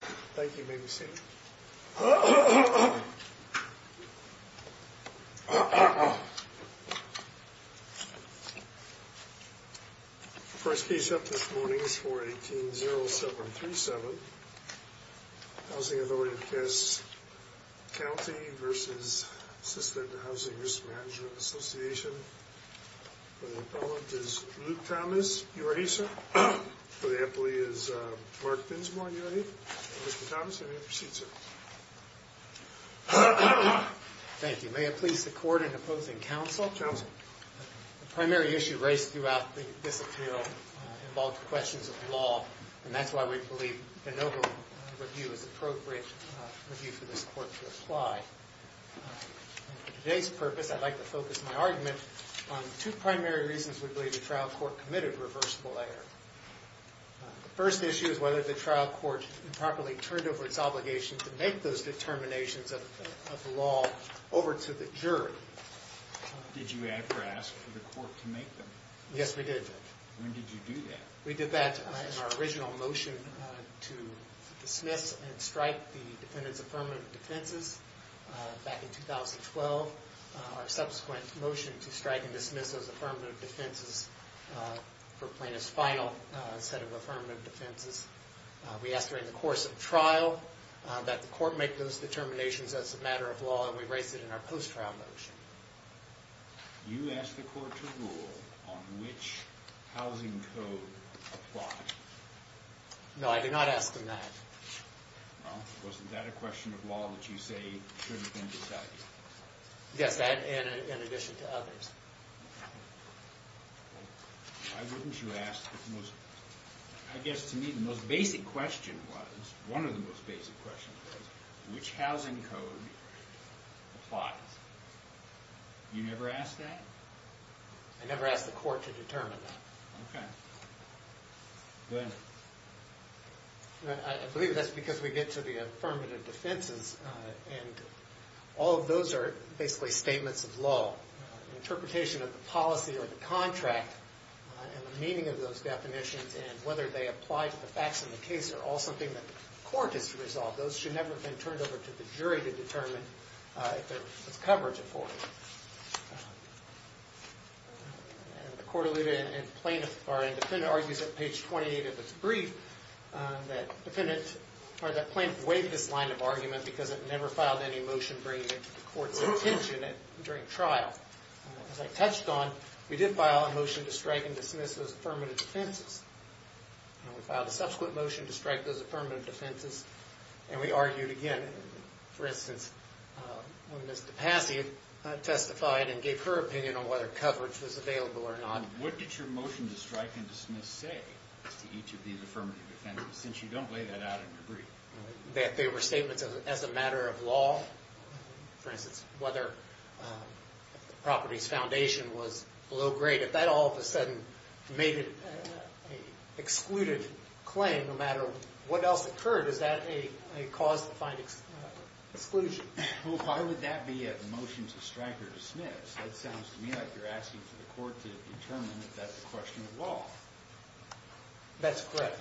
Thank you. May we see you? First case up this morning is 418-0737. Housing Authority of Cass County v. Assisted Housing Risk Management Association. For the appellant is Luke Thomas, URA, sir. For the appellee is Mark Binsmore, URA. Mr. Thomas, may I have your seat, sir? Thank you. May I please support and oppose in counsel? Counsel. The primary issue raised throughout this appeal involved questions of law, and that's why we believe the noble review is appropriate review for this court to apply. For today's purpose, I'd like to focus my argument on two primary reasons we believe the trial court committed reversible error. The first issue is whether the trial court improperly turned over its obligation to make those determinations of the law over to the jury. Did you ever ask for the court to make them? Yes, we did, Judge. When did you do that? We did that in our original motion to dismiss and strike the defendant's affirmative defenses back in 2012, our subsequent motion to strike and dismiss those affirmative defenses for plaintiff's final set of affirmative defenses. We asked during the course of trial that the court make those determinations as a matter of law, and we raised it in our post-trial motion. You asked the court to rule on which housing code applies. No, I did not ask them that. Well, wasn't that a question of law that you say should have been decided? Yes, and in addition to others. Why wouldn't you ask the most, I guess to me the most basic question was, one of the most basic questions was, which housing code applies? You never asked that? I never asked the court to determine that. Okay. Go ahead. I believe that's because we get to the affirmative defenses, and all of those are basically statements of law. The interpretation of the policy or the contract and the meaning of those definitions and whether they apply to the facts of the case are all something that the court has to resolve. Those should never have been turned over to the jury to determine if there was coverage afforded. The court alluded, and the defendant argues at page 28 of its brief, that the plaintiff waived this line of argument because it never filed any motion bringing it to the court's attention during trial. As I touched on, we did file a motion to strike and dismiss those affirmative defenses. We filed a subsequent motion to strike those affirmative defenses, and we argued again. For instance, when Ms. DePassi testified and gave her opinion on whether coverage was available or not. What did your motion to strike and dismiss say to each of these affirmative defenses, since you don't lay that out in your brief? That they were statements as a matter of law? For instance, whether the property's foundation was below grade. If that all of a sudden made it an excluded claim, no matter what else occurred, is that a cause to find exclusion? Why would that be a motion to strike or dismiss? That sounds to me like you're asking for the court to determine if that's a question of law. That's correct.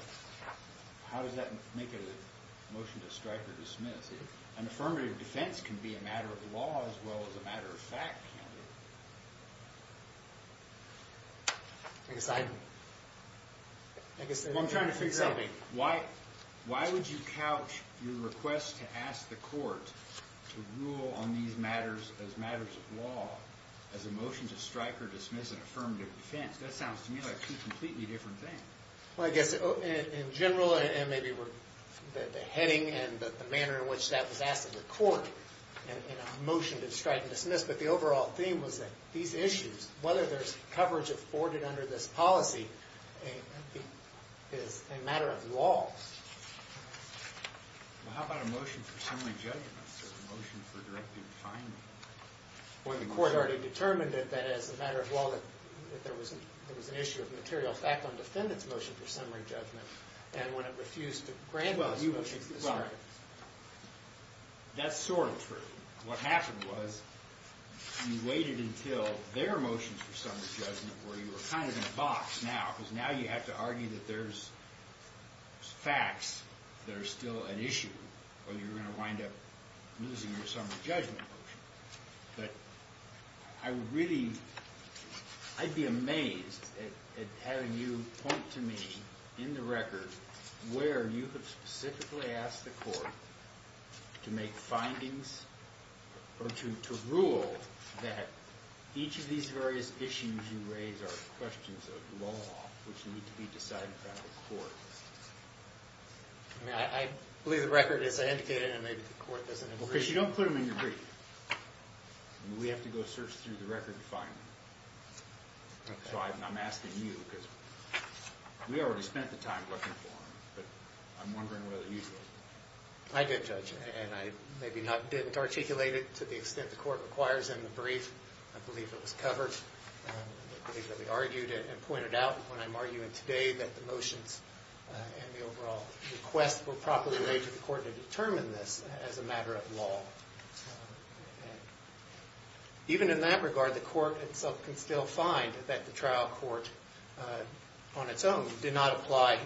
How does that make it a motion to strike or dismiss? An affirmative defense can be a matter of law as well as a matter of fact, can't it? I'm trying to figure out. Why would you couch your request to ask the court to rule on these matters as matters of law as a motion to strike or dismiss an affirmative defense? That sounds to me like two completely different things. I guess in general, and maybe the heading and the manner in which that was asked of the court in a motion to strike and dismiss, but the overall theme was that these issues, whether there's coverage afforded under this policy, is a matter of law. How about a motion for summary judgment? A motion for directive finding? Well, the court already determined that that is a matter of law, that there was an issue of material fact on the defendant's motion for summary judgment, and when it refused to grant those motions to strike. Well, that's sort of true. What happened was you waited until their motions for summary judgment, where you were kind of in a box now, because now you have to argue that there's facts that are still an issue, or you're going to wind up losing your summary judgment motion. But I'd be amazed at how you point to me in the record where you have specifically asked the court to make findings or to rule that each of these various issues you raise are questions of law, which need to be decided by the court. I mean, I believe the record is indicated, and maybe the court doesn't agree. Because you don't put them in your brief. We have to go search through the record to find them. So I'm asking you, because we already spent the time looking for them, but I'm wondering whether you do. I did judge it, and I maybe didn't articulate it to the extent the court requires in the brief. I believe it was covered. I believe that we argued it and pointed out, when I'm arguing today, that the motions and the overall request were properly made to the court to determine this as a matter of law. Even in that regard, the court itself can still find that the trial court on its own did not apply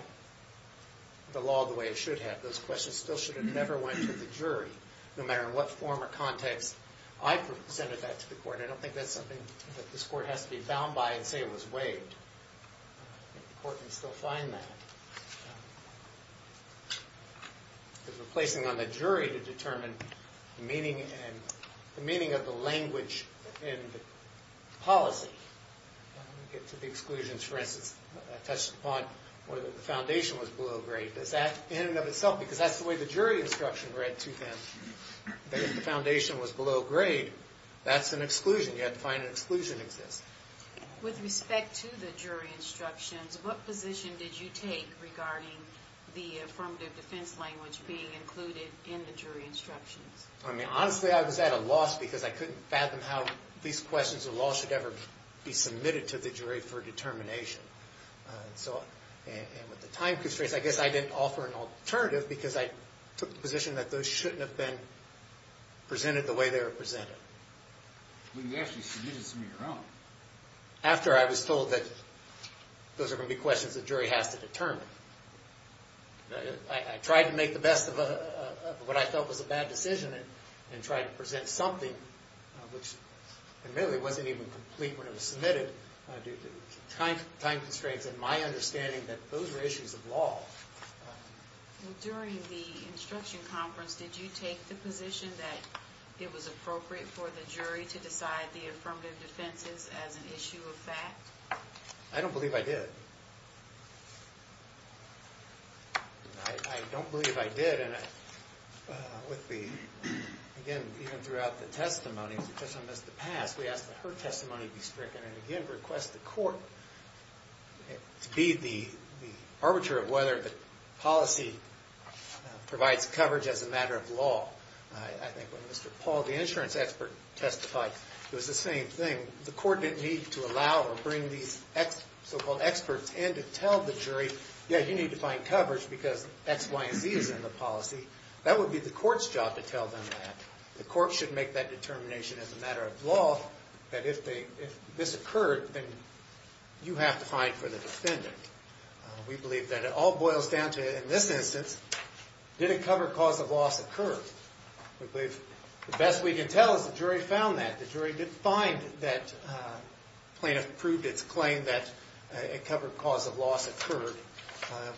the law the way it should have. Those questions still should have never went to the jury, no matter in what form or context I presented that to the court. I don't think that's something that this court has to be bound by and say it was waived. The court can still find that. Because we're placing it on the jury to determine the meaning of the language in the policy. Let me get to the exclusions. For instance, I touched upon whether the foundation was below grade. Does that, in and of itself, because that's the way the jury instruction read to them, that if the foundation was below grade, that's an exclusion. You have to find an exclusion exists. With respect to the jury instructions, what position did you take regarding the affirmative defense language being included in the jury instructions? Honestly, I was at a loss because I couldn't fathom how these questions of law should ever be submitted to the jury for determination. With the time constraints, I guess I didn't offer an alternative because I took the position that those shouldn't have been presented the way they were presented. Well, you actually submitted some of your own. After I was told that those are going to be questions the jury has to determine, I tried to make the best of what I felt was a bad decision and tried to present something which admittedly wasn't even complete when it was submitted due to time constraints and my understanding that those were issues of law. During the instruction conference, did you take the position that it was appropriate for the jury to decide the affirmative defenses as an issue of fact? I don't believe I did. I don't believe I did. Again, even throughout the testimony, because I missed the past, we asked that her testimony be stricken and again request the court to be the arbiter of whether the policy provides coverage as a matter of law. I think when Mr. Paul, the insurance expert, testified, it was the same thing. The court didn't need to allow or bring these so-called experts in to tell the jury, yeah, you need to find coverage because X, Y, and Z is in the policy. That would be the court's job to tell them that. The court should make that determination as a matter of law that if this occurred, then you have to find for the defendant. We believe that it all boils down to, in this instance, did a covered cause of loss occur? The best we can tell is the jury found that. The jury did find that plaintiff proved its claim that a covered cause of loss occurred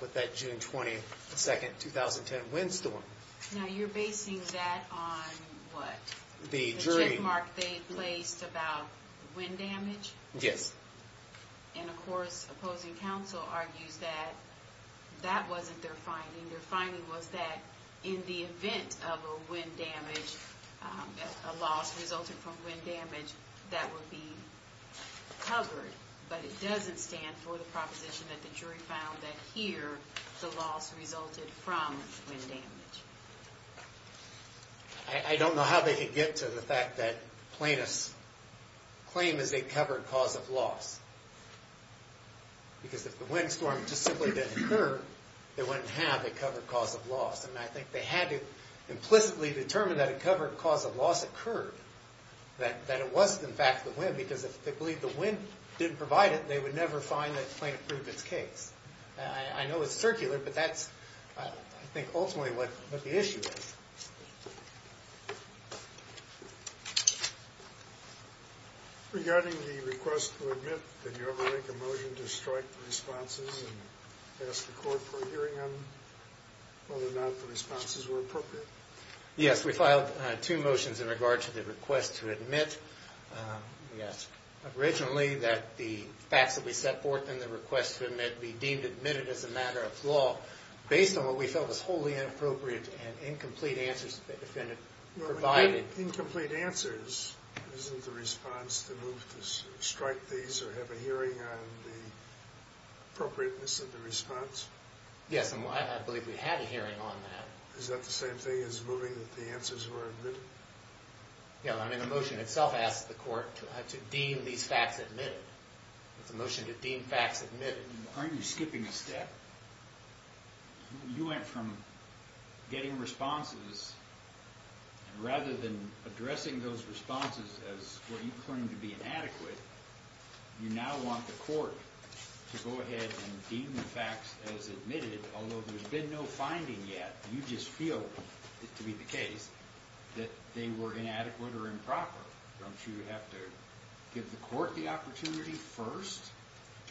with that June 22, 2010 windstorm. Now, you're basing that on what? The jury. The check mark they placed about wind damage? Yes. And, of course, opposing counsel argues that that wasn't their finding. Their finding was that in the event of a wind damage, a loss resulted from wind damage, that would be covered. But it doesn't stand for the proposition that the jury found that here the loss resulted from wind damage. I don't know how they could get to the fact that plaintiff's claim is a covered cause of loss. Because if the windstorm just simply didn't occur, they wouldn't have a covered cause of loss. And I think they had to implicitly determine that a covered cause of loss occurred, that it was, in fact, the wind. Because if they believed the wind didn't provide it, they would never find that plaintiff proved its case. I know it's circular, but that's, I think, ultimately what the issue is. Regarding the request to admit, did you ever make a motion to strike the responses and ask the court for a hearing on whether or not the responses were appropriate? Yes, we filed two motions in regard to the request to admit. We asked originally that the facts that we set forth in the request to admit be deemed admitted as a matter of law, based on what we felt was wholly inappropriate and incomplete answers that the defendant provided. Incomplete answers, isn't the response to move to strike these or have a hearing on the appropriateness of the response? Yes, and I believe we had a hearing on that. Is that the same thing as moving that the answers were admitted? I mean, the motion itself asks the court to deem these facts admitted. It's a motion to deem facts admitted. Aren't you skipping a step? You went from getting responses, and rather than addressing those responses as what you claimed to be inadequate, you now want the court to go ahead and deem the facts as admitted, although there's been no finding yet. You just feel, to be the case, that they were inadequate or improper. Don't you have to give the court the opportunity first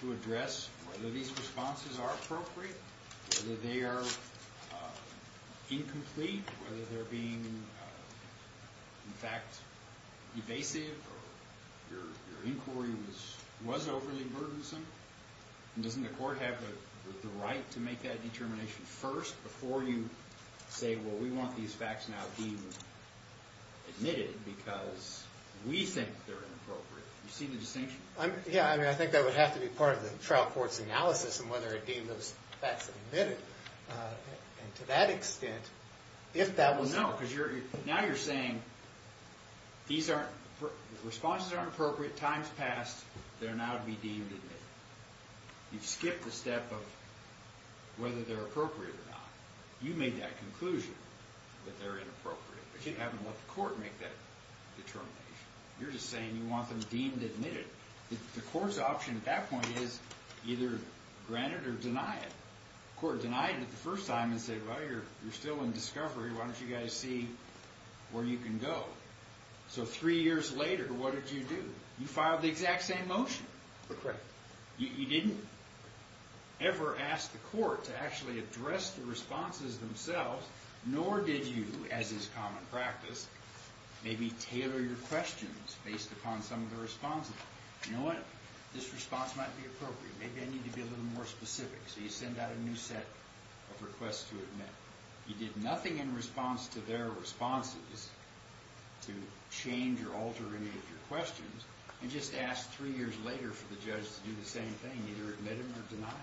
to address whether these responses are appropriate, whether they are incomplete, whether they're being, in fact, evasive, or your inquiry was overly burdensome? And doesn't the court have the right to make that determination first before you say, well, we want these facts now deemed admitted because we think they're inappropriate? Do you see the distinction? Yeah, I mean, I think that would have to be part of the trial court's analysis of whether it deemed those facts admitted. And to that extent, if that was... You skipped a step of whether they're appropriate or not. You made that conclusion that they're inappropriate, but you haven't let the court make that determination. You're just saying you want them deemed admitted. The court's option at that point is either grant it or deny it. The court denied it the first time and said, well, you're still in discovery. Why don't you guys see where you can go? So three years later, what did you do? You filed the exact same motion. Correct. You didn't ever ask the court to actually address the responses themselves, nor did you, as is common practice, maybe tailor your questions based upon some of the responses. You know what? This response might be appropriate. Maybe I need to be a little more specific. So you send out a new set of requests to admit. You did nothing in response to their responses to change or alter any of your questions and just asked three years later for the judge to do the same thing, either admit them or deny them.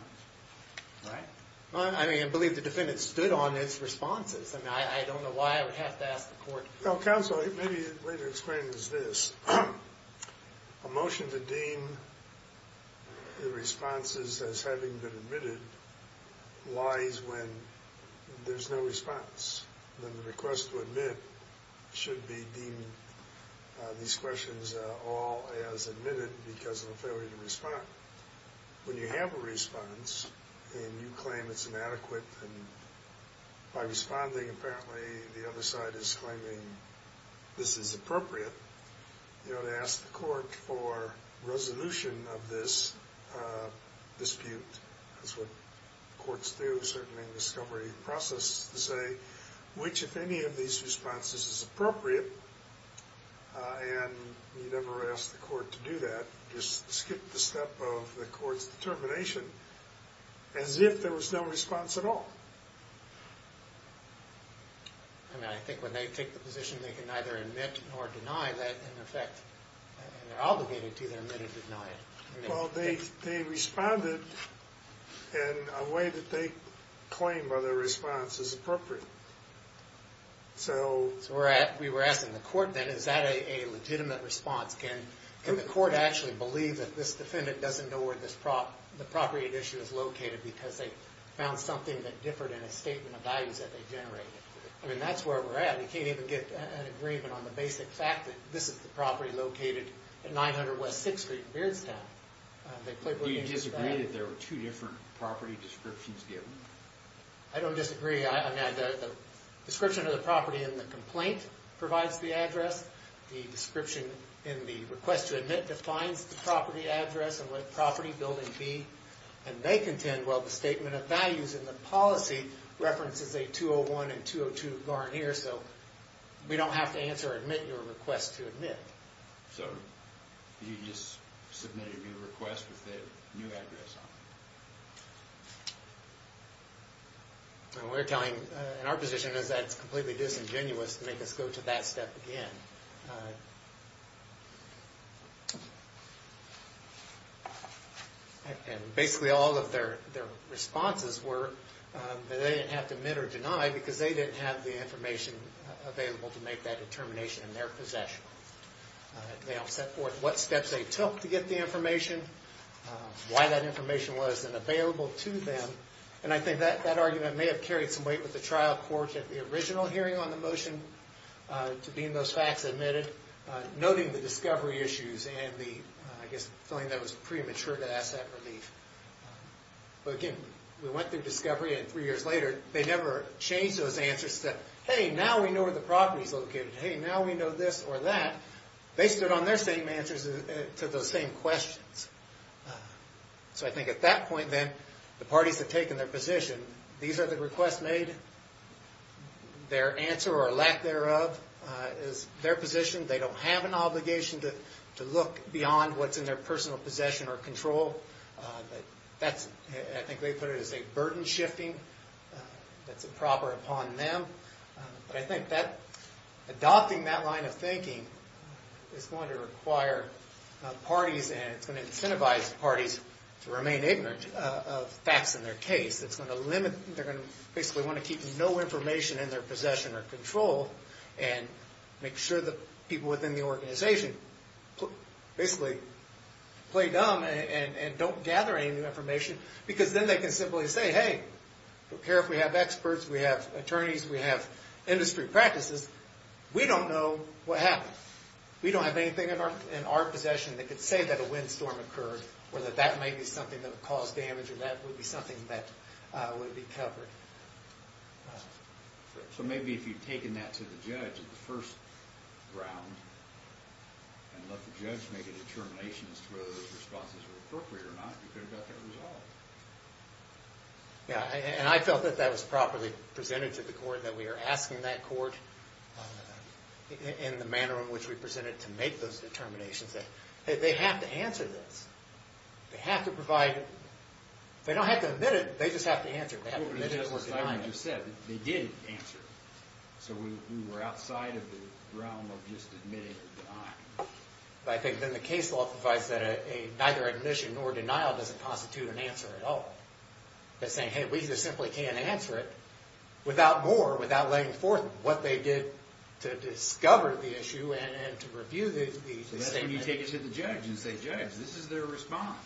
Right? I mean, I believe the defendant stood on its responses. I mean, I don't know why I would have to ask the court. Well, counsel, maybe the way to explain this is this. A motion to deem the responses as having been admitted lies when there's no response. Then the request to admit should be deemed these questions all as admitted because of a failure to respond. When you have a response and you claim it's inadequate, and by responding apparently the other side is claiming this is appropriate, you ought to ask the court for resolution of this dispute. That's what courts do, certainly in the discovery process, to say which, if any, of these responses is appropriate. And you never ask the court to do that. You just skip the step of the court's determination as if there was no response at all. I mean, I think when they take the position they can neither admit nor deny that, in effect they're obligated to either admit or deny it. Well, they responded in a way that they claim by their response is appropriate. So we were asking the court then, is that a legitimate response? Can the court actually believe that this defendant doesn't know where the property addition is located because they found something that differed in a statement of values that they generated? I mean, that's where we're at. You can't even get an agreement on the basic fact that this is the property located at 900 West 6th Street in Beardstown. Do you disagree that there were two different property descriptions given? I don't disagree. The description of the property in the complaint provides the address. The description in the request to admit defines the property address and what property building B. And they contend, well, the statement of values in the policy references a 201 and 202 Garnier, so we don't have to answer or admit your request to admit. So you just submitted your request with the new address on it. And we're telling, and our position is that's completely disingenuous to make us go to that step again. And basically all of their responses were that they didn't have to admit or deny because they didn't have the information available to make that determination in their possession. They all set forth what steps they took to get the information, why that information wasn't available to them. And I think that argument may have carried some weight with the trial court at the original hearing on the motion to being those facts admitted, noting the discovery issues and the, I guess, feeling that it was premature to ask that relief. But again, we went through discovery, and three years later, they never changed those answers to say, hey, now we know where the property's located. Hey, now we know this or that. They stood on their same answers to those same questions. So I think at that point, then, the parties have taken their position. These are the requests made. Their answer or lack thereof is their position. They don't have an obligation to look beyond what's in their personal possession or control. I think they put it as a burden shifting that's improper upon them. But I think adopting that line of thinking is going to require parties and it's going to incentivize parties to remain ignorant of facts in their case. It's going to limit, they're going to basically want to keep no information in their possession or control and make sure that people within the organization basically play dumb and don't gather any new information because then they can simply say, hey, we care if we have experts, we have attorneys, we have industry practices. We don't know what happened. We don't have anything in our possession that could say that a windstorm occurred or that that may be something that caused damage or that would be something that would be covered. So maybe if you'd taken that to the judge at the first round and let the judge make a determination as to whether those responses were appropriate or not, you could have got that resolved. Yeah, and I felt that that was properly presented to the court, that we are asking that court in the manner in which we present it to make those determinations that they have to answer this. They have to provide, they don't have to admit it, they just have to answer it. They did answer it. So we were outside of the realm of just admitting or denying. I think then the case law provides that neither admission nor denial doesn't constitute an answer at all. It's saying, hey, we just simply can't answer it without more, without laying forth what they did to discover the issue and to review the statement. Then you take it to the judge and say, judge, this is their response.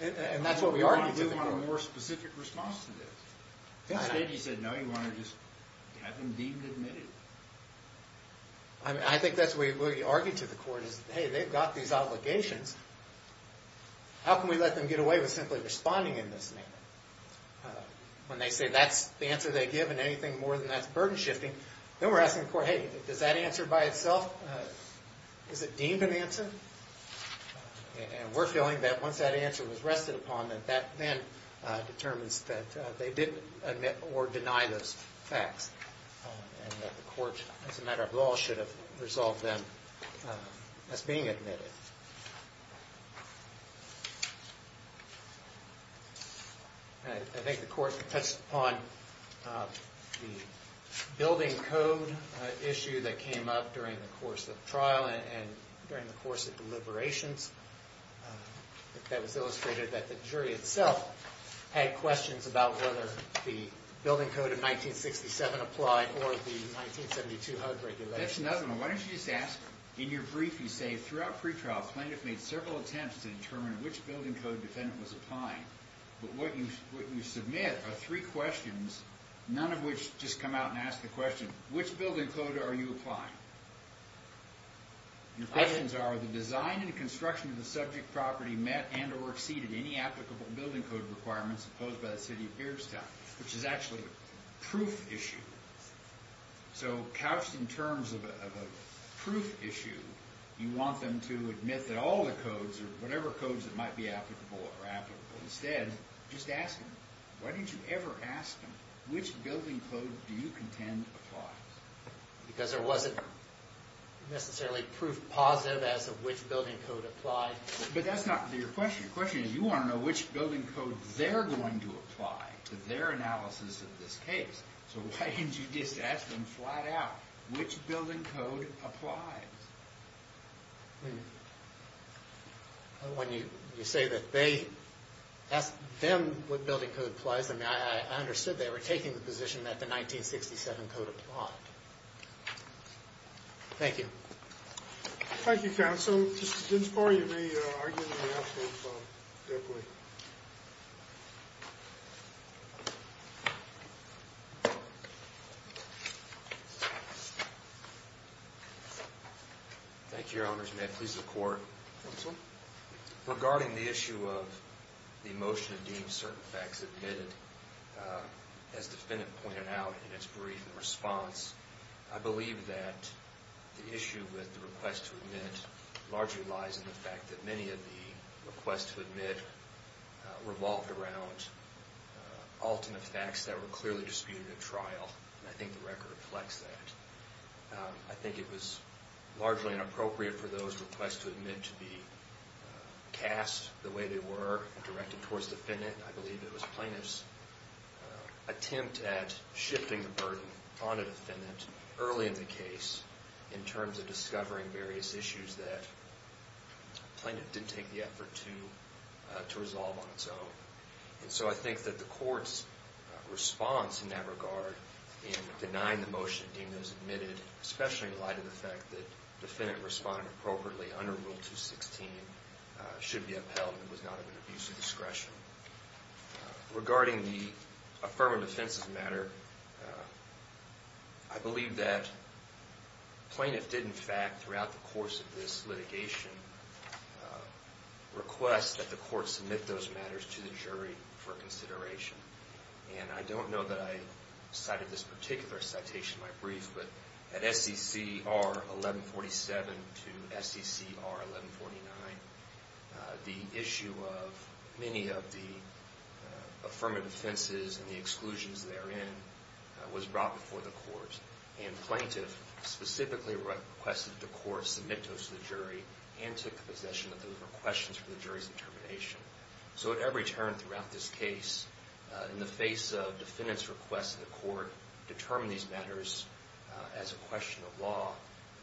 And that's what we argue to the court. We want a more specific response to this. Instead, you said, no, you want to just have them deemed admitted. I think that's what we argue to the court is, hey, they've got these obligations. How can we let them get away with simply responding in this manner? When they say that's the answer they give and anything more than that's burden shifting, then we're asking the court, hey, does that answer by itself, is it deemed an answer? And we're feeling that once that answer was rested upon, that that then determines that they didn't admit or deny those facts and that the court, as a matter of law, should have resolved them as being admitted. I think the court touched upon the building code issue that came up during the course of trial and during the course of deliberations. That was illustrated that the jury itself had questions about whether the building code of 1967 applied or the 1972 HUD regulations. That's another one. Why don't you just ask, in your brief you say, throughout pretrial, plaintiff made several attempts to determine which building code defendant was applying. But what you submit are three questions, none of which just come out and ask the question, which building code are you applying? Your questions are, the design and construction of the subject property met and or exceeded any applicable building code requirements imposed by the city of Georgetown, which is actually a proof issue. So couched in terms of a proof issue, you want them to admit that all the codes or whatever codes that might be applicable are applicable. Instead, just ask them. Why didn't you ever ask them, which building code do you contend applies? Because there wasn't necessarily proof positive as to which building code applied. But that's not your question. Your question is, you want to know which building code they're going to apply to their analysis of this case. So why didn't you just ask them flat out, which building code applies? When you say that they asked them what building code applies, I mean, I understood they were taking the position that the 1967 code applied. Thank you. Thank you, counsel. Counsel, Mr. Ginspar, you may argue in the absence of their plea. Thank you, Your Honors. May I please have the court? Counsel. Regarding the issue of the motion to deem certain facts admitted, as the defendant pointed out in its brief response, I believe that the issue with the request to admit largely lies in the fact that many of the requests to admit revolved around alternate facts that were clearly disputed at trial. I think the record reflects that. I think it was largely inappropriate for those requests to admit to be cast the way they were and directed towards the defendant. I believe it was plaintiff's attempt at shifting the burden on the defendant early in the case in terms of discovering various issues that the plaintiff didn't take the effort to resolve on its own. And so I think that the court's response in that regard in denying the motion to deem those admitted, especially in light of the fact that the defendant responded appropriately under Rule 216, should be upheld and was not of an abuse of discretion. Regarding the affirmative defense matter, I believe that plaintiff did, in fact, throughout the course of this litigation, request that the court submit those matters to the jury for consideration. And I don't know that I cited this particular citation in my brief, but at SCCR 1147 to SCCR 1149, the issue of many of the affirmative defenses and the exclusions therein was brought before the court. And plaintiff specifically requested that the court submit those to the jury and took the position that those were questions for the jury's determination. So at every turn throughout this case, in the face of defendant's request to the court to determine these matters as a question of law,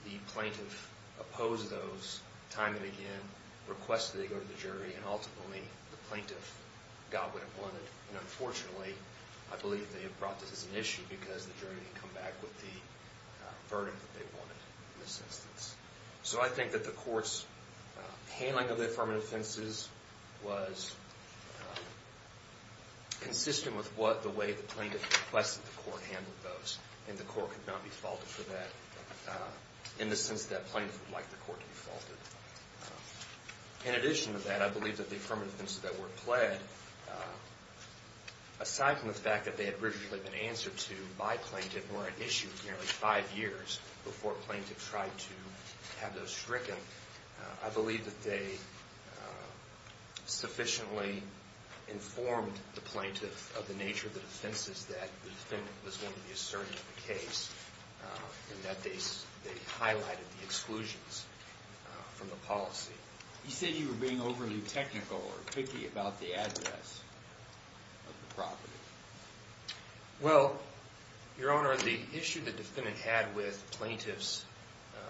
the plaintiff opposed those time and again, requested they go to the jury, and ultimately the plaintiff got what it wanted. And unfortunately, I believe they have brought this as an issue because the jury didn't come back with the verdict that they wanted in this instance. So I think that the court's handling of the affirmative defenses was consistent with the way the plaintiff requested the court handle those, and the court could not be faulted for that, in the sense that plaintiff would like the court to be faulted. In addition to that, I believe that the affirmative defenses that were pled, aside from the fact that they had originally been answered to by plaintiff and were at issue nearly five years before plaintiff tried to have those stricken, I believe that they sufficiently informed the plaintiff of the nature of the defenses that the defendant was going to be asserting the case, and that they highlighted the exclusions from the policy. You said you were being overly technical or picky about the address of the property. Well, Your Honor, the issue the defendant had with plaintiff's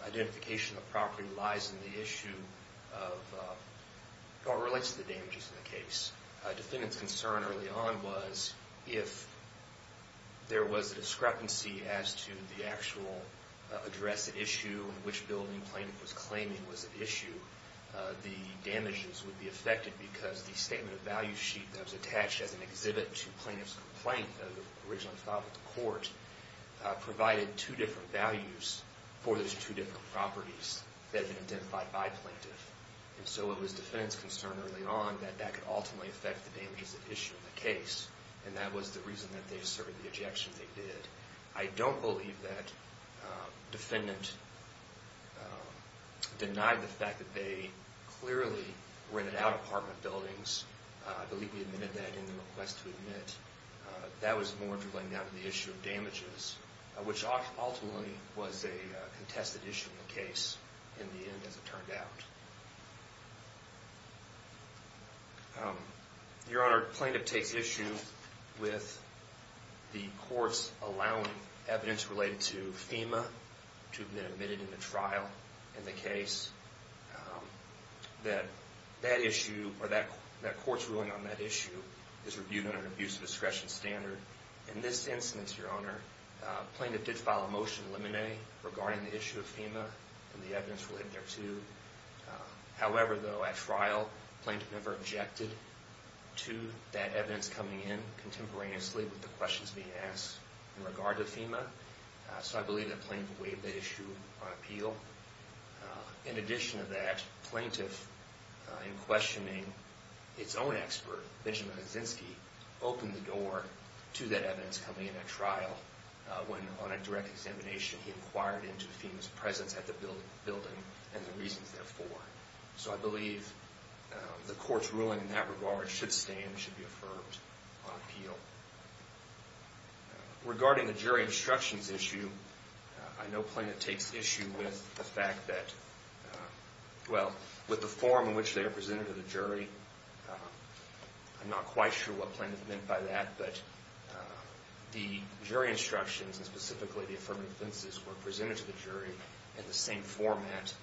identification of the property lies in the issue of how it relates to the damages in the case. Defendant's concern early on was if there was a discrepancy as to the actual address at issue and which building plaintiff was claiming was at issue, the damages would be affected because the statement of value sheet that was attached as an exhibit to plaintiff's complaint that was originally filed at the court provided two different values for those two different properties that had been identified by plaintiff. And so it was defendant's concern early on that that could ultimately affect the damages at issue in the case, and that was the reason that they asserted the ejection they did. I don't believe that defendant denied the fact that they clearly rented out apartment buildings. I believe he admitted that in the request to admit. That was more to laying down the issue of damages, which ultimately was a contested issue in the case in the end as it turned out. Your Honor, plaintiff takes issue with the courts allowing evidence related to FEMA to have been admitted in the trial in the case. That issue or that court's ruling on that issue is reviewed under an abuse of discretion standard. In this instance, Your Honor, plaintiff did file a motion in limine regarding the issue of FEMA and the evidence related there too. However, though, at trial, plaintiff never objected to that evidence coming in contemporaneously So I believe that plaintiff waived that issue on appeal. In addition to that, plaintiff, in questioning its own expert, Benjamin Kaczynski, opened the door to that evidence coming in at trial when, on a direct examination, he inquired into FEMA's presence at the building and the reasons therefore. So I believe the court's ruling in that regard should stand, should be affirmed on appeal. Regarding the jury instructions issue, I know plaintiff takes issue with the fact that, well, with the form in which they are presented to the jury. I'm not quite sure what plaintiff meant by that, but the jury instructions, and specifically the affirmative sentences, were presented to the jury in the same format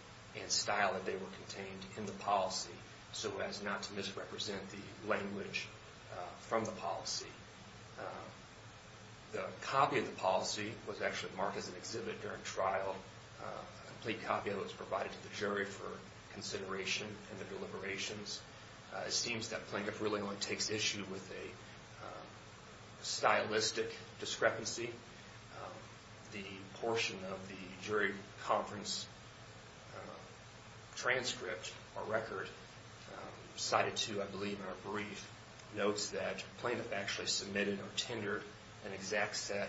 and style that they were contained in the policy so as not to misrepresent the language from the policy. The copy of the policy was actually marked as an exhibit during trial. A complete copy of it was provided to the jury for consideration in the deliberations. It seems that plaintiff really only takes issue with a stylistic discrepancy. The portion of the jury conference transcript or record cited to, I believe, in our brief, notes that plaintiff actually submitted or tendered an exact set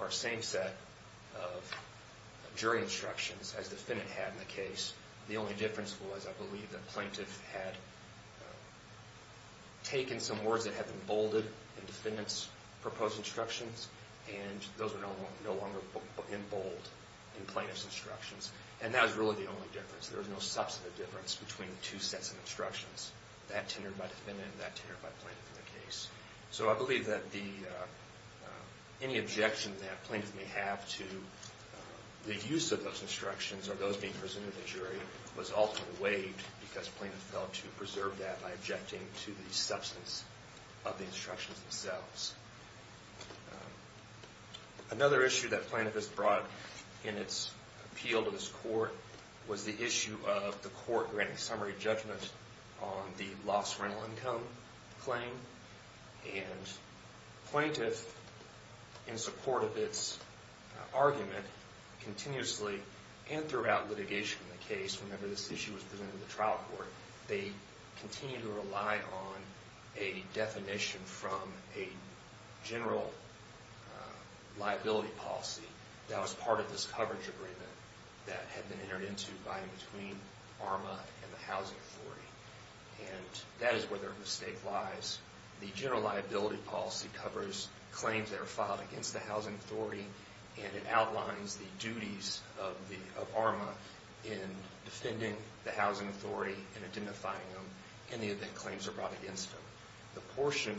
or same set of jury instructions as defendant had in the case. The only difference was, I believe, that plaintiff had taken some words that had been bolded in defendant's proposed instructions, and those were no longer in bold in plaintiff's instructions. And that was really the only difference. There was no substantive difference between the two sets of instructions, that tendered by defendant and that tendered by plaintiff in the case. So I believe that any objection that plaintiff may have to the use of those instructions or those being presented to the jury was ultimately waived because plaintiff felt to preserve that by objecting to the substance of the instructions themselves. Another issue that plaintiff has brought in its appeal to this court was the issue of the court granting summary judgment on the lost rental income claim. And plaintiff, in support of its argument, continuously and throughout litigation in the case, whenever this issue was presented to the trial court, they continued to rely on a definition from a general liability policy that was part of this coverage agreement that had been entered into by and between ARMA and the Housing Authority. And that is where their mistake lies. The general liability policy covers claims that are filed against the Housing Authority, and it outlines the duties of ARMA in defending the Housing Authority and identifying them, any of the claims that are brought against them. The portion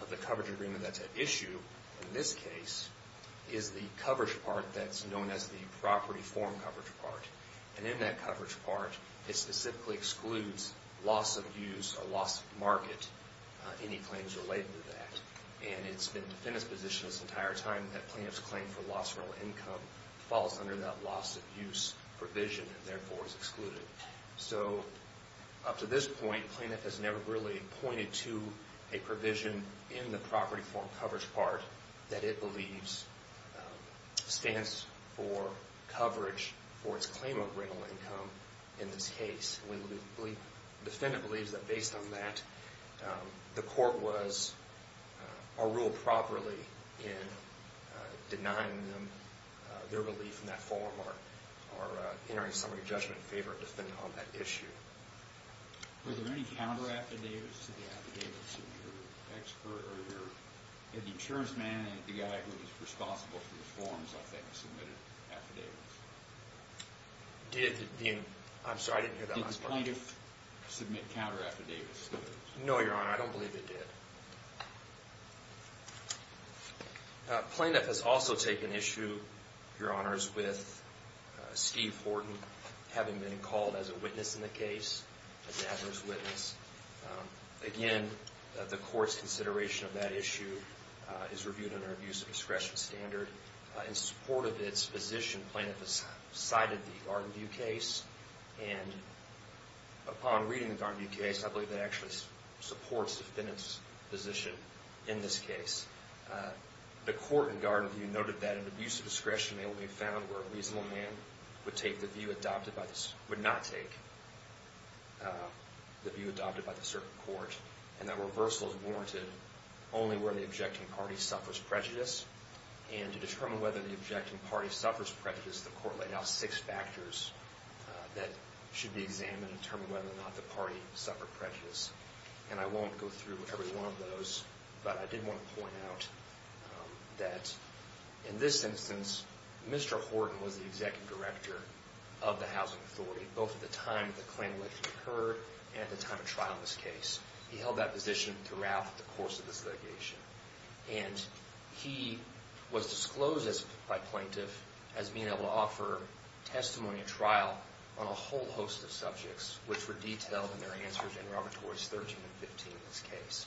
of the coverage agreement that's at issue in this case is the coverage part that's known as the property form coverage part. And in that coverage part, it specifically excludes loss of use or loss of market, any claims related to that. And it's been the defendant's position this entire time that plaintiff's claim for lost rental income falls under that loss of use provision and therefore is excluded. So up to this point, plaintiff has never really pointed to a provision in the property form coverage part that it believes stands for coverage for its claim of rental income in this case. The defendant believes that based on that, the court was, or ruled properly in denying them their relief in that form or entering a summary judgment in favor of the defendant on that issue. Were there any counteraffidavits to the affidavits of your expert or your, the insurance man and the guy who was responsible for the forms, I think, submitted affidavits? I'm sorry, I didn't hear that last part. Did the plaintiff submit counteraffidavits to those? No, Your Honor, I don't believe it did. Plaintiff has also taken issue, Your Honors, with Steve Horton having been called as a witness in the case, an adverse witness. Again, the court's consideration of that issue is reviewed under abuse of discretion standard. In support of its position, plaintiff has cited the Garden View case, and upon reading the Garden View case, I believe they actually support the defendant's position in this case. The court in Garden View noted that an abuse of discretion may only be found where a reasonable man would take the view adopted by the, would not take the view adopted by the certain court, and that reversal is warranted only where the objecting party suffers prejudice and to determine whether the objecting party suffers prejudice, the court laid out six factors that should be examined to determine whether or not the party suffered prejudice, and I won't go through every one of those, but I did want to point out that in this instance, Mr. Horton was the executive director of the housing authority, both at the time the claim allegedly occurred and at the time of trial in this case. He held that position throughout the course of this litigation, and he was disclosed by plaintiff as being able to offer testimony at trial on a whole host of subjects, which were detailed in their answers in Robert Torey's 13 and 15 in this case,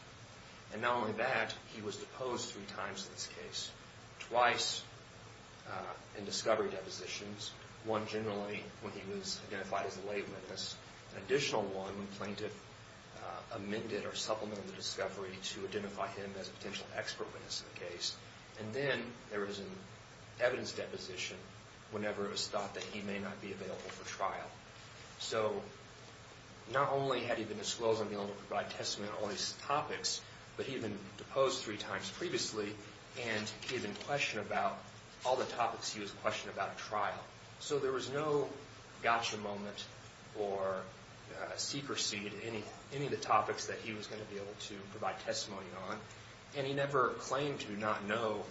and not only that, he was deposed three times in this case, twice in discovery depositions, one generally when he was identified as a lay witness, an additional one when plaintiff amended or supplemented the discovery to identify him as a potential expert witness in the case, and then there was an evidence deposition whenever it was thought that he may not be available for trial. So not only had he been disclosed on being able to provide testimony on all these topics, but he had been deposed three times previously, and he had been questioned about all the topics he was questioned about at trial. So there was no gotcha moment or seeker seed in any of the topics that he was going to be able to provide testimony on, and he never claimed to not know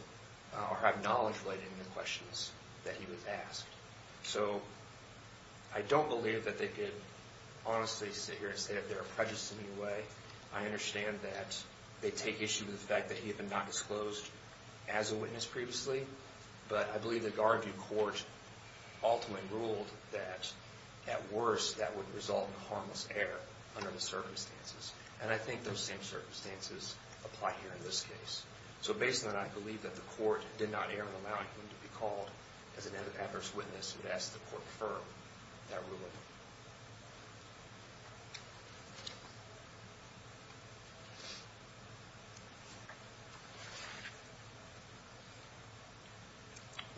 or have knowledge related to the questions that he was asked. So I don't believe that they could honestly sit here and say that there are prejudices in any way. I understand that they take issue with the fact that he had been not disclosed as a witness previously, but I believe the Garview court ultimately ruled that, at worst, that would result in harmless error under the circumstances. And I think those same circumstances apply here in this case. So based on that, I believe that the court did not err in allowing him to be called as an adverse witness and asked the court to confirm that ruling.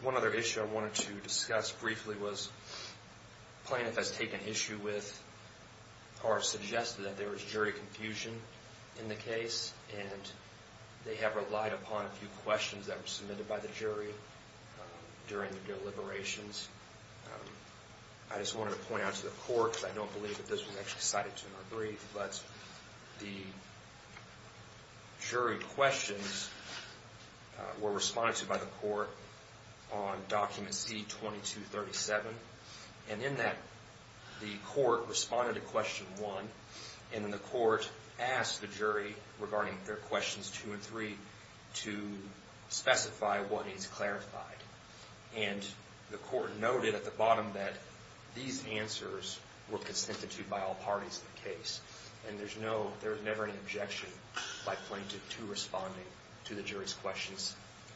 One other issue I wanted to discuss briefly was Plaintiff has taken issue with or suggested that there was jury confusion in the case, and they have relied upon a few questions that were submitted by the jury during the deliberations. I just wanted to point out to the court, because I don't believe that this was actually cited to in our brief, but the jury questions were responded to by the court on Document C-2237. And in that, the court responded to Question 1, and then the court asked the jury regarding their Questions 2 and 3 to specify what needs clarified. And the court noted at the bottom that these answers were consented to by all parties in the case, and there was never any objection by Plaintiff to responding to the jury's questions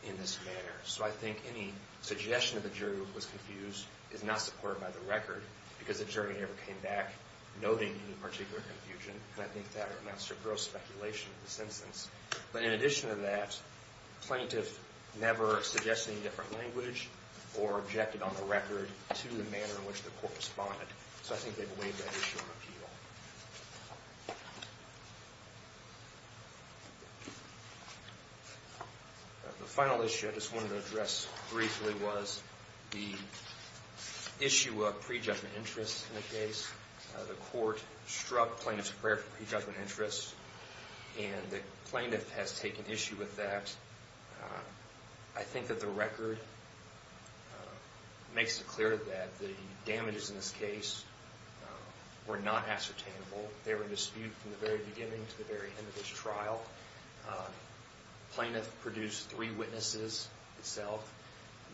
in this manner. So I think any suggestion that the jury was confused is not supported by the record, because the jury never came back noting any particular confusion, and I think that amounts to gross speculation in this instance. But in addition to that, Plaintiff never suggested any different language or objected on the record to the manner in which the court responded. So I think they've waived that issue on appeal. The final issue I just wanted to address briefly was the issue of prejudgment interest in the case. The court struck Plaintiff's prayer for prejudgment interest, and the Plaintiff has taken issue with that. I think that the record makes it clear that the damages in this case were not ascertainable. They were disputed from the very beginning to the very end of this trial. Plaintiff produced three witnesses itself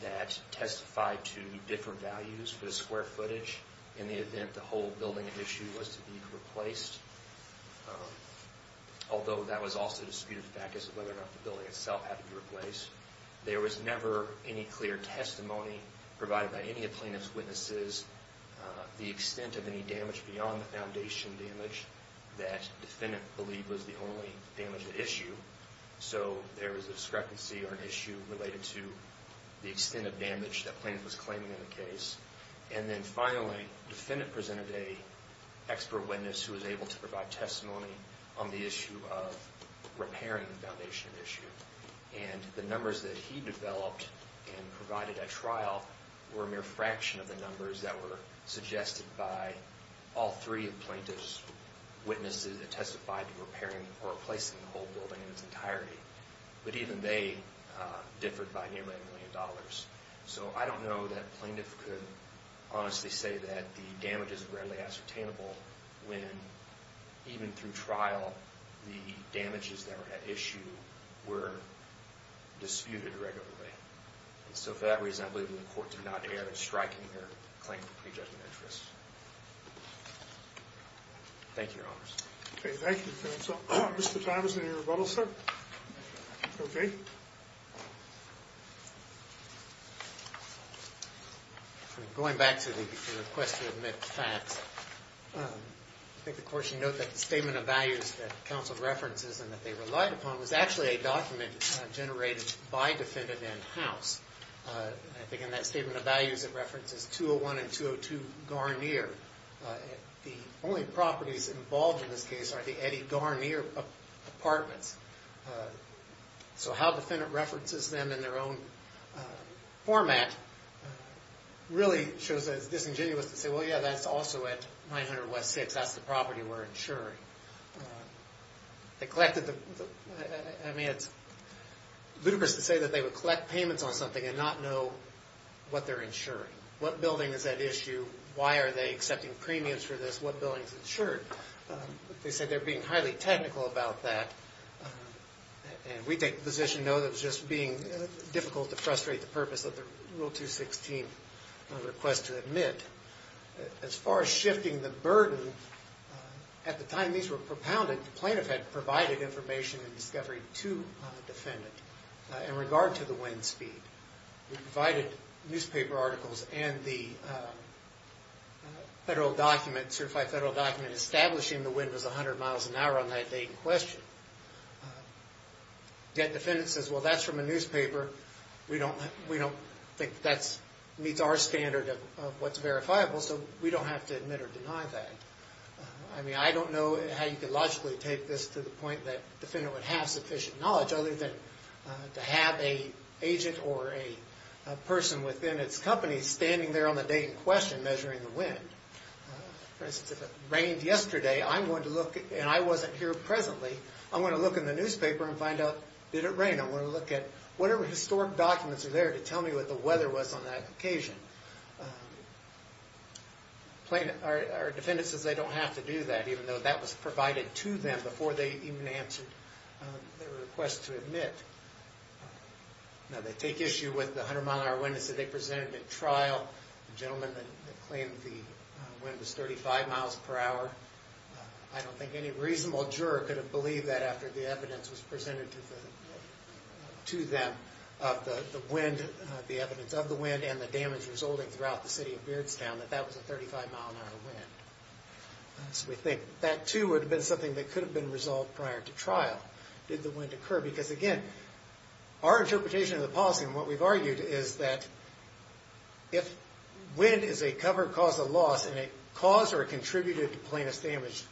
that testified to different values for the square footage in the event the whole building issue was to be replaced. Although that was also disputed, the fact is whether or not the building itself had to be replaced. There was never any clear testimony provided by any of Plaintiff's witnesses the extent of any damage beyond the foundation damage that the defendant believed was the only damage at issue. So there was a discrepancy or an issue related to the extent of damage that Plaintiff was claiming in the case. Finally, the defendant presented an expert witness who was able to provide testimony on the issue of repairing the foundation issue. The numbers that he developed and provided at trial were a mere fraction of the numbers that were suggested by all three of Plaintiff's witnesses that testified to repairing or replacing the whole building in its entirety. But even they differed by nearly a million dollars. So I don't know that Plaintiff could honestly say that the damage is readily ascertainable when, even through trial, the damages that were at issue were disputed regularly. And so for that reason, I believe the court did not air a strike in their claim for prejudgment interest. Thank you, Your Honors. Okay, thank you, counsel. Mr. Thomas, any rebuttals, sir? Okay. Going back to the question of mixed facts, I think the court should note that the statement of values that counsel references and that they relied upon was actually a document generated by defendant and house. I think in that statement of values it references 201 and 202 Garnier. The only properties involved in this case are the Eddie Garnier apartments. So how defendant references them in their own format really shows that it's disingenuous to say, well, yeah, that's also at 900 West 6th. That's the property we're insuring. It's ludicrous to say that they would collect payments on something and not know what they're insuring. What building is at issue? Why are they accepting premiums for this? What building is insured? They said they're being highly technical about that, and we take the position, no, that it's just being difficult to frustrate the purpose of the Rule 216 request to admit. As far as shifting the burden, at the time these were propounded, the plaintiff had provided information and discovery to the defendant in regard to the wind speed. We provided newspaper articles and the federal document, certified federal document, establishing the wind was 100 miles an hour on that day in question. Yet defendant says, well, that's from a newspaper. We don't think that meets our standard of what's verifiable, so we don't have to admit or deny that. I mean, I don't know how you could logically take this to the point that to have an agent or a person within its company standing there on the day in question measuring the wind. For instance, if it rained yesterday, I'm going to look, and I wasn't here presently, I'm going to look in the newspaper and find out, did it rain? I'm going to look at whatever historic documents are there to tell me what the weather was on that occasion. Our defendant says they don't have to do that, even though that was provided to them before they even answered their request to admit. Now, they take issue with the 100 mile an hour wind that they presented at trial. The gentleman claimed the wind was 35 miles per hour. I don't think any reasonable juror could have believed that after the evidence was presented to them of the wind, the evidence of the wind and the damage resulting throughout the city of Beardstown, that that was a 35 mile an hour wind. That, too, would have been something that could have been resolved prior to trial. Did the wind occur? Because, again, our interpretation of the policy and what we've argued is that if wind is a cover cause of loss and it caused or contributed to plaintiff's damage,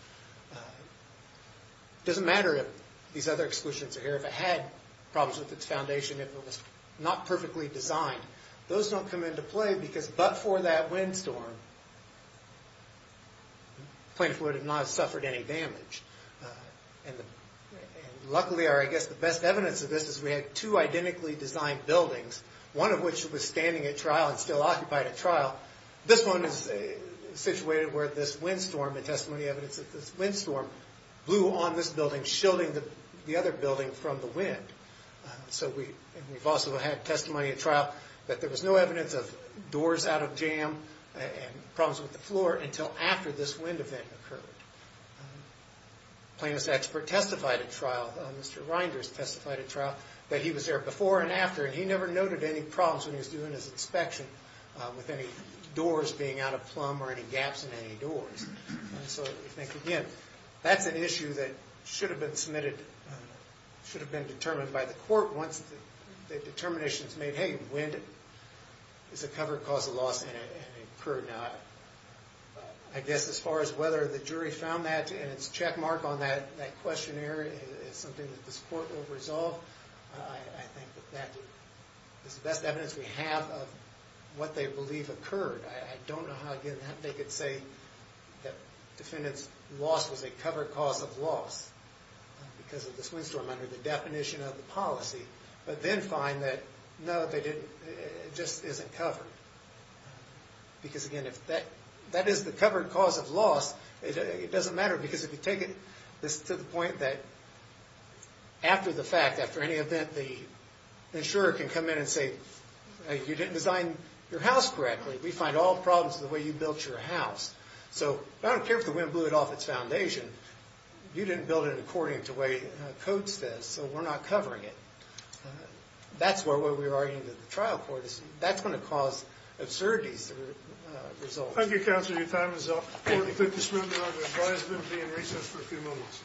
it doesn't matter if these other exclusions are here. If it had problems with its foundation, if it was not perfectly designed, those don't come into play because but for that windstorm, plaintiff would have not suffered any damage. Luckily, I guess the best evidence of this is we had two identically designed buildings, one of which was standing at trial and still occupied at trial. This one is situated where this windstorm, the testimony evidence of this windstorm, blew on this building, shielding the other building from the wind. We've also had testimony at trial that there was no evidence of doors out of jam and problems with the floor until after this wind event occurred. Plaintiff's expert testified at trial, Mr. Reinders testified at trial, that he was there before and after and he never noted any problems when he was doing his inspection with any doors being out of plumb or any gaps in any doors. So I think again, that's an issue that should have been submitted, should have been determined by the court once the determination is made, hey, wind is a covered cause of loss and it occurred not. I guess as far as whether the jury found that and its check mark on that questionnaire is something that this court will resolve. I think that that is the best evidence we have of what they believe occurred. I don't know how they could say that defendant's loss was a covered cause of loss because of this windstorm under the definition of the policy, but then find that no, it just isn't covered. Because again, if that is the covered cause of loss, it doesn't matter because if you take it to the point that after the fact, after any event, the insurer can come in and say, you didn't design your house correctly. We find all problems in the way you built your house. So I don't care if the wind blew it off its foundation. You didn't build it according to the way the code says, so we're not covering it. That's where we were arguing with the trial court. That's going to cause absurdities to result. Thank you, counsel. Your time is up. The court will take this moment now to advise them and be in recess for a few moments.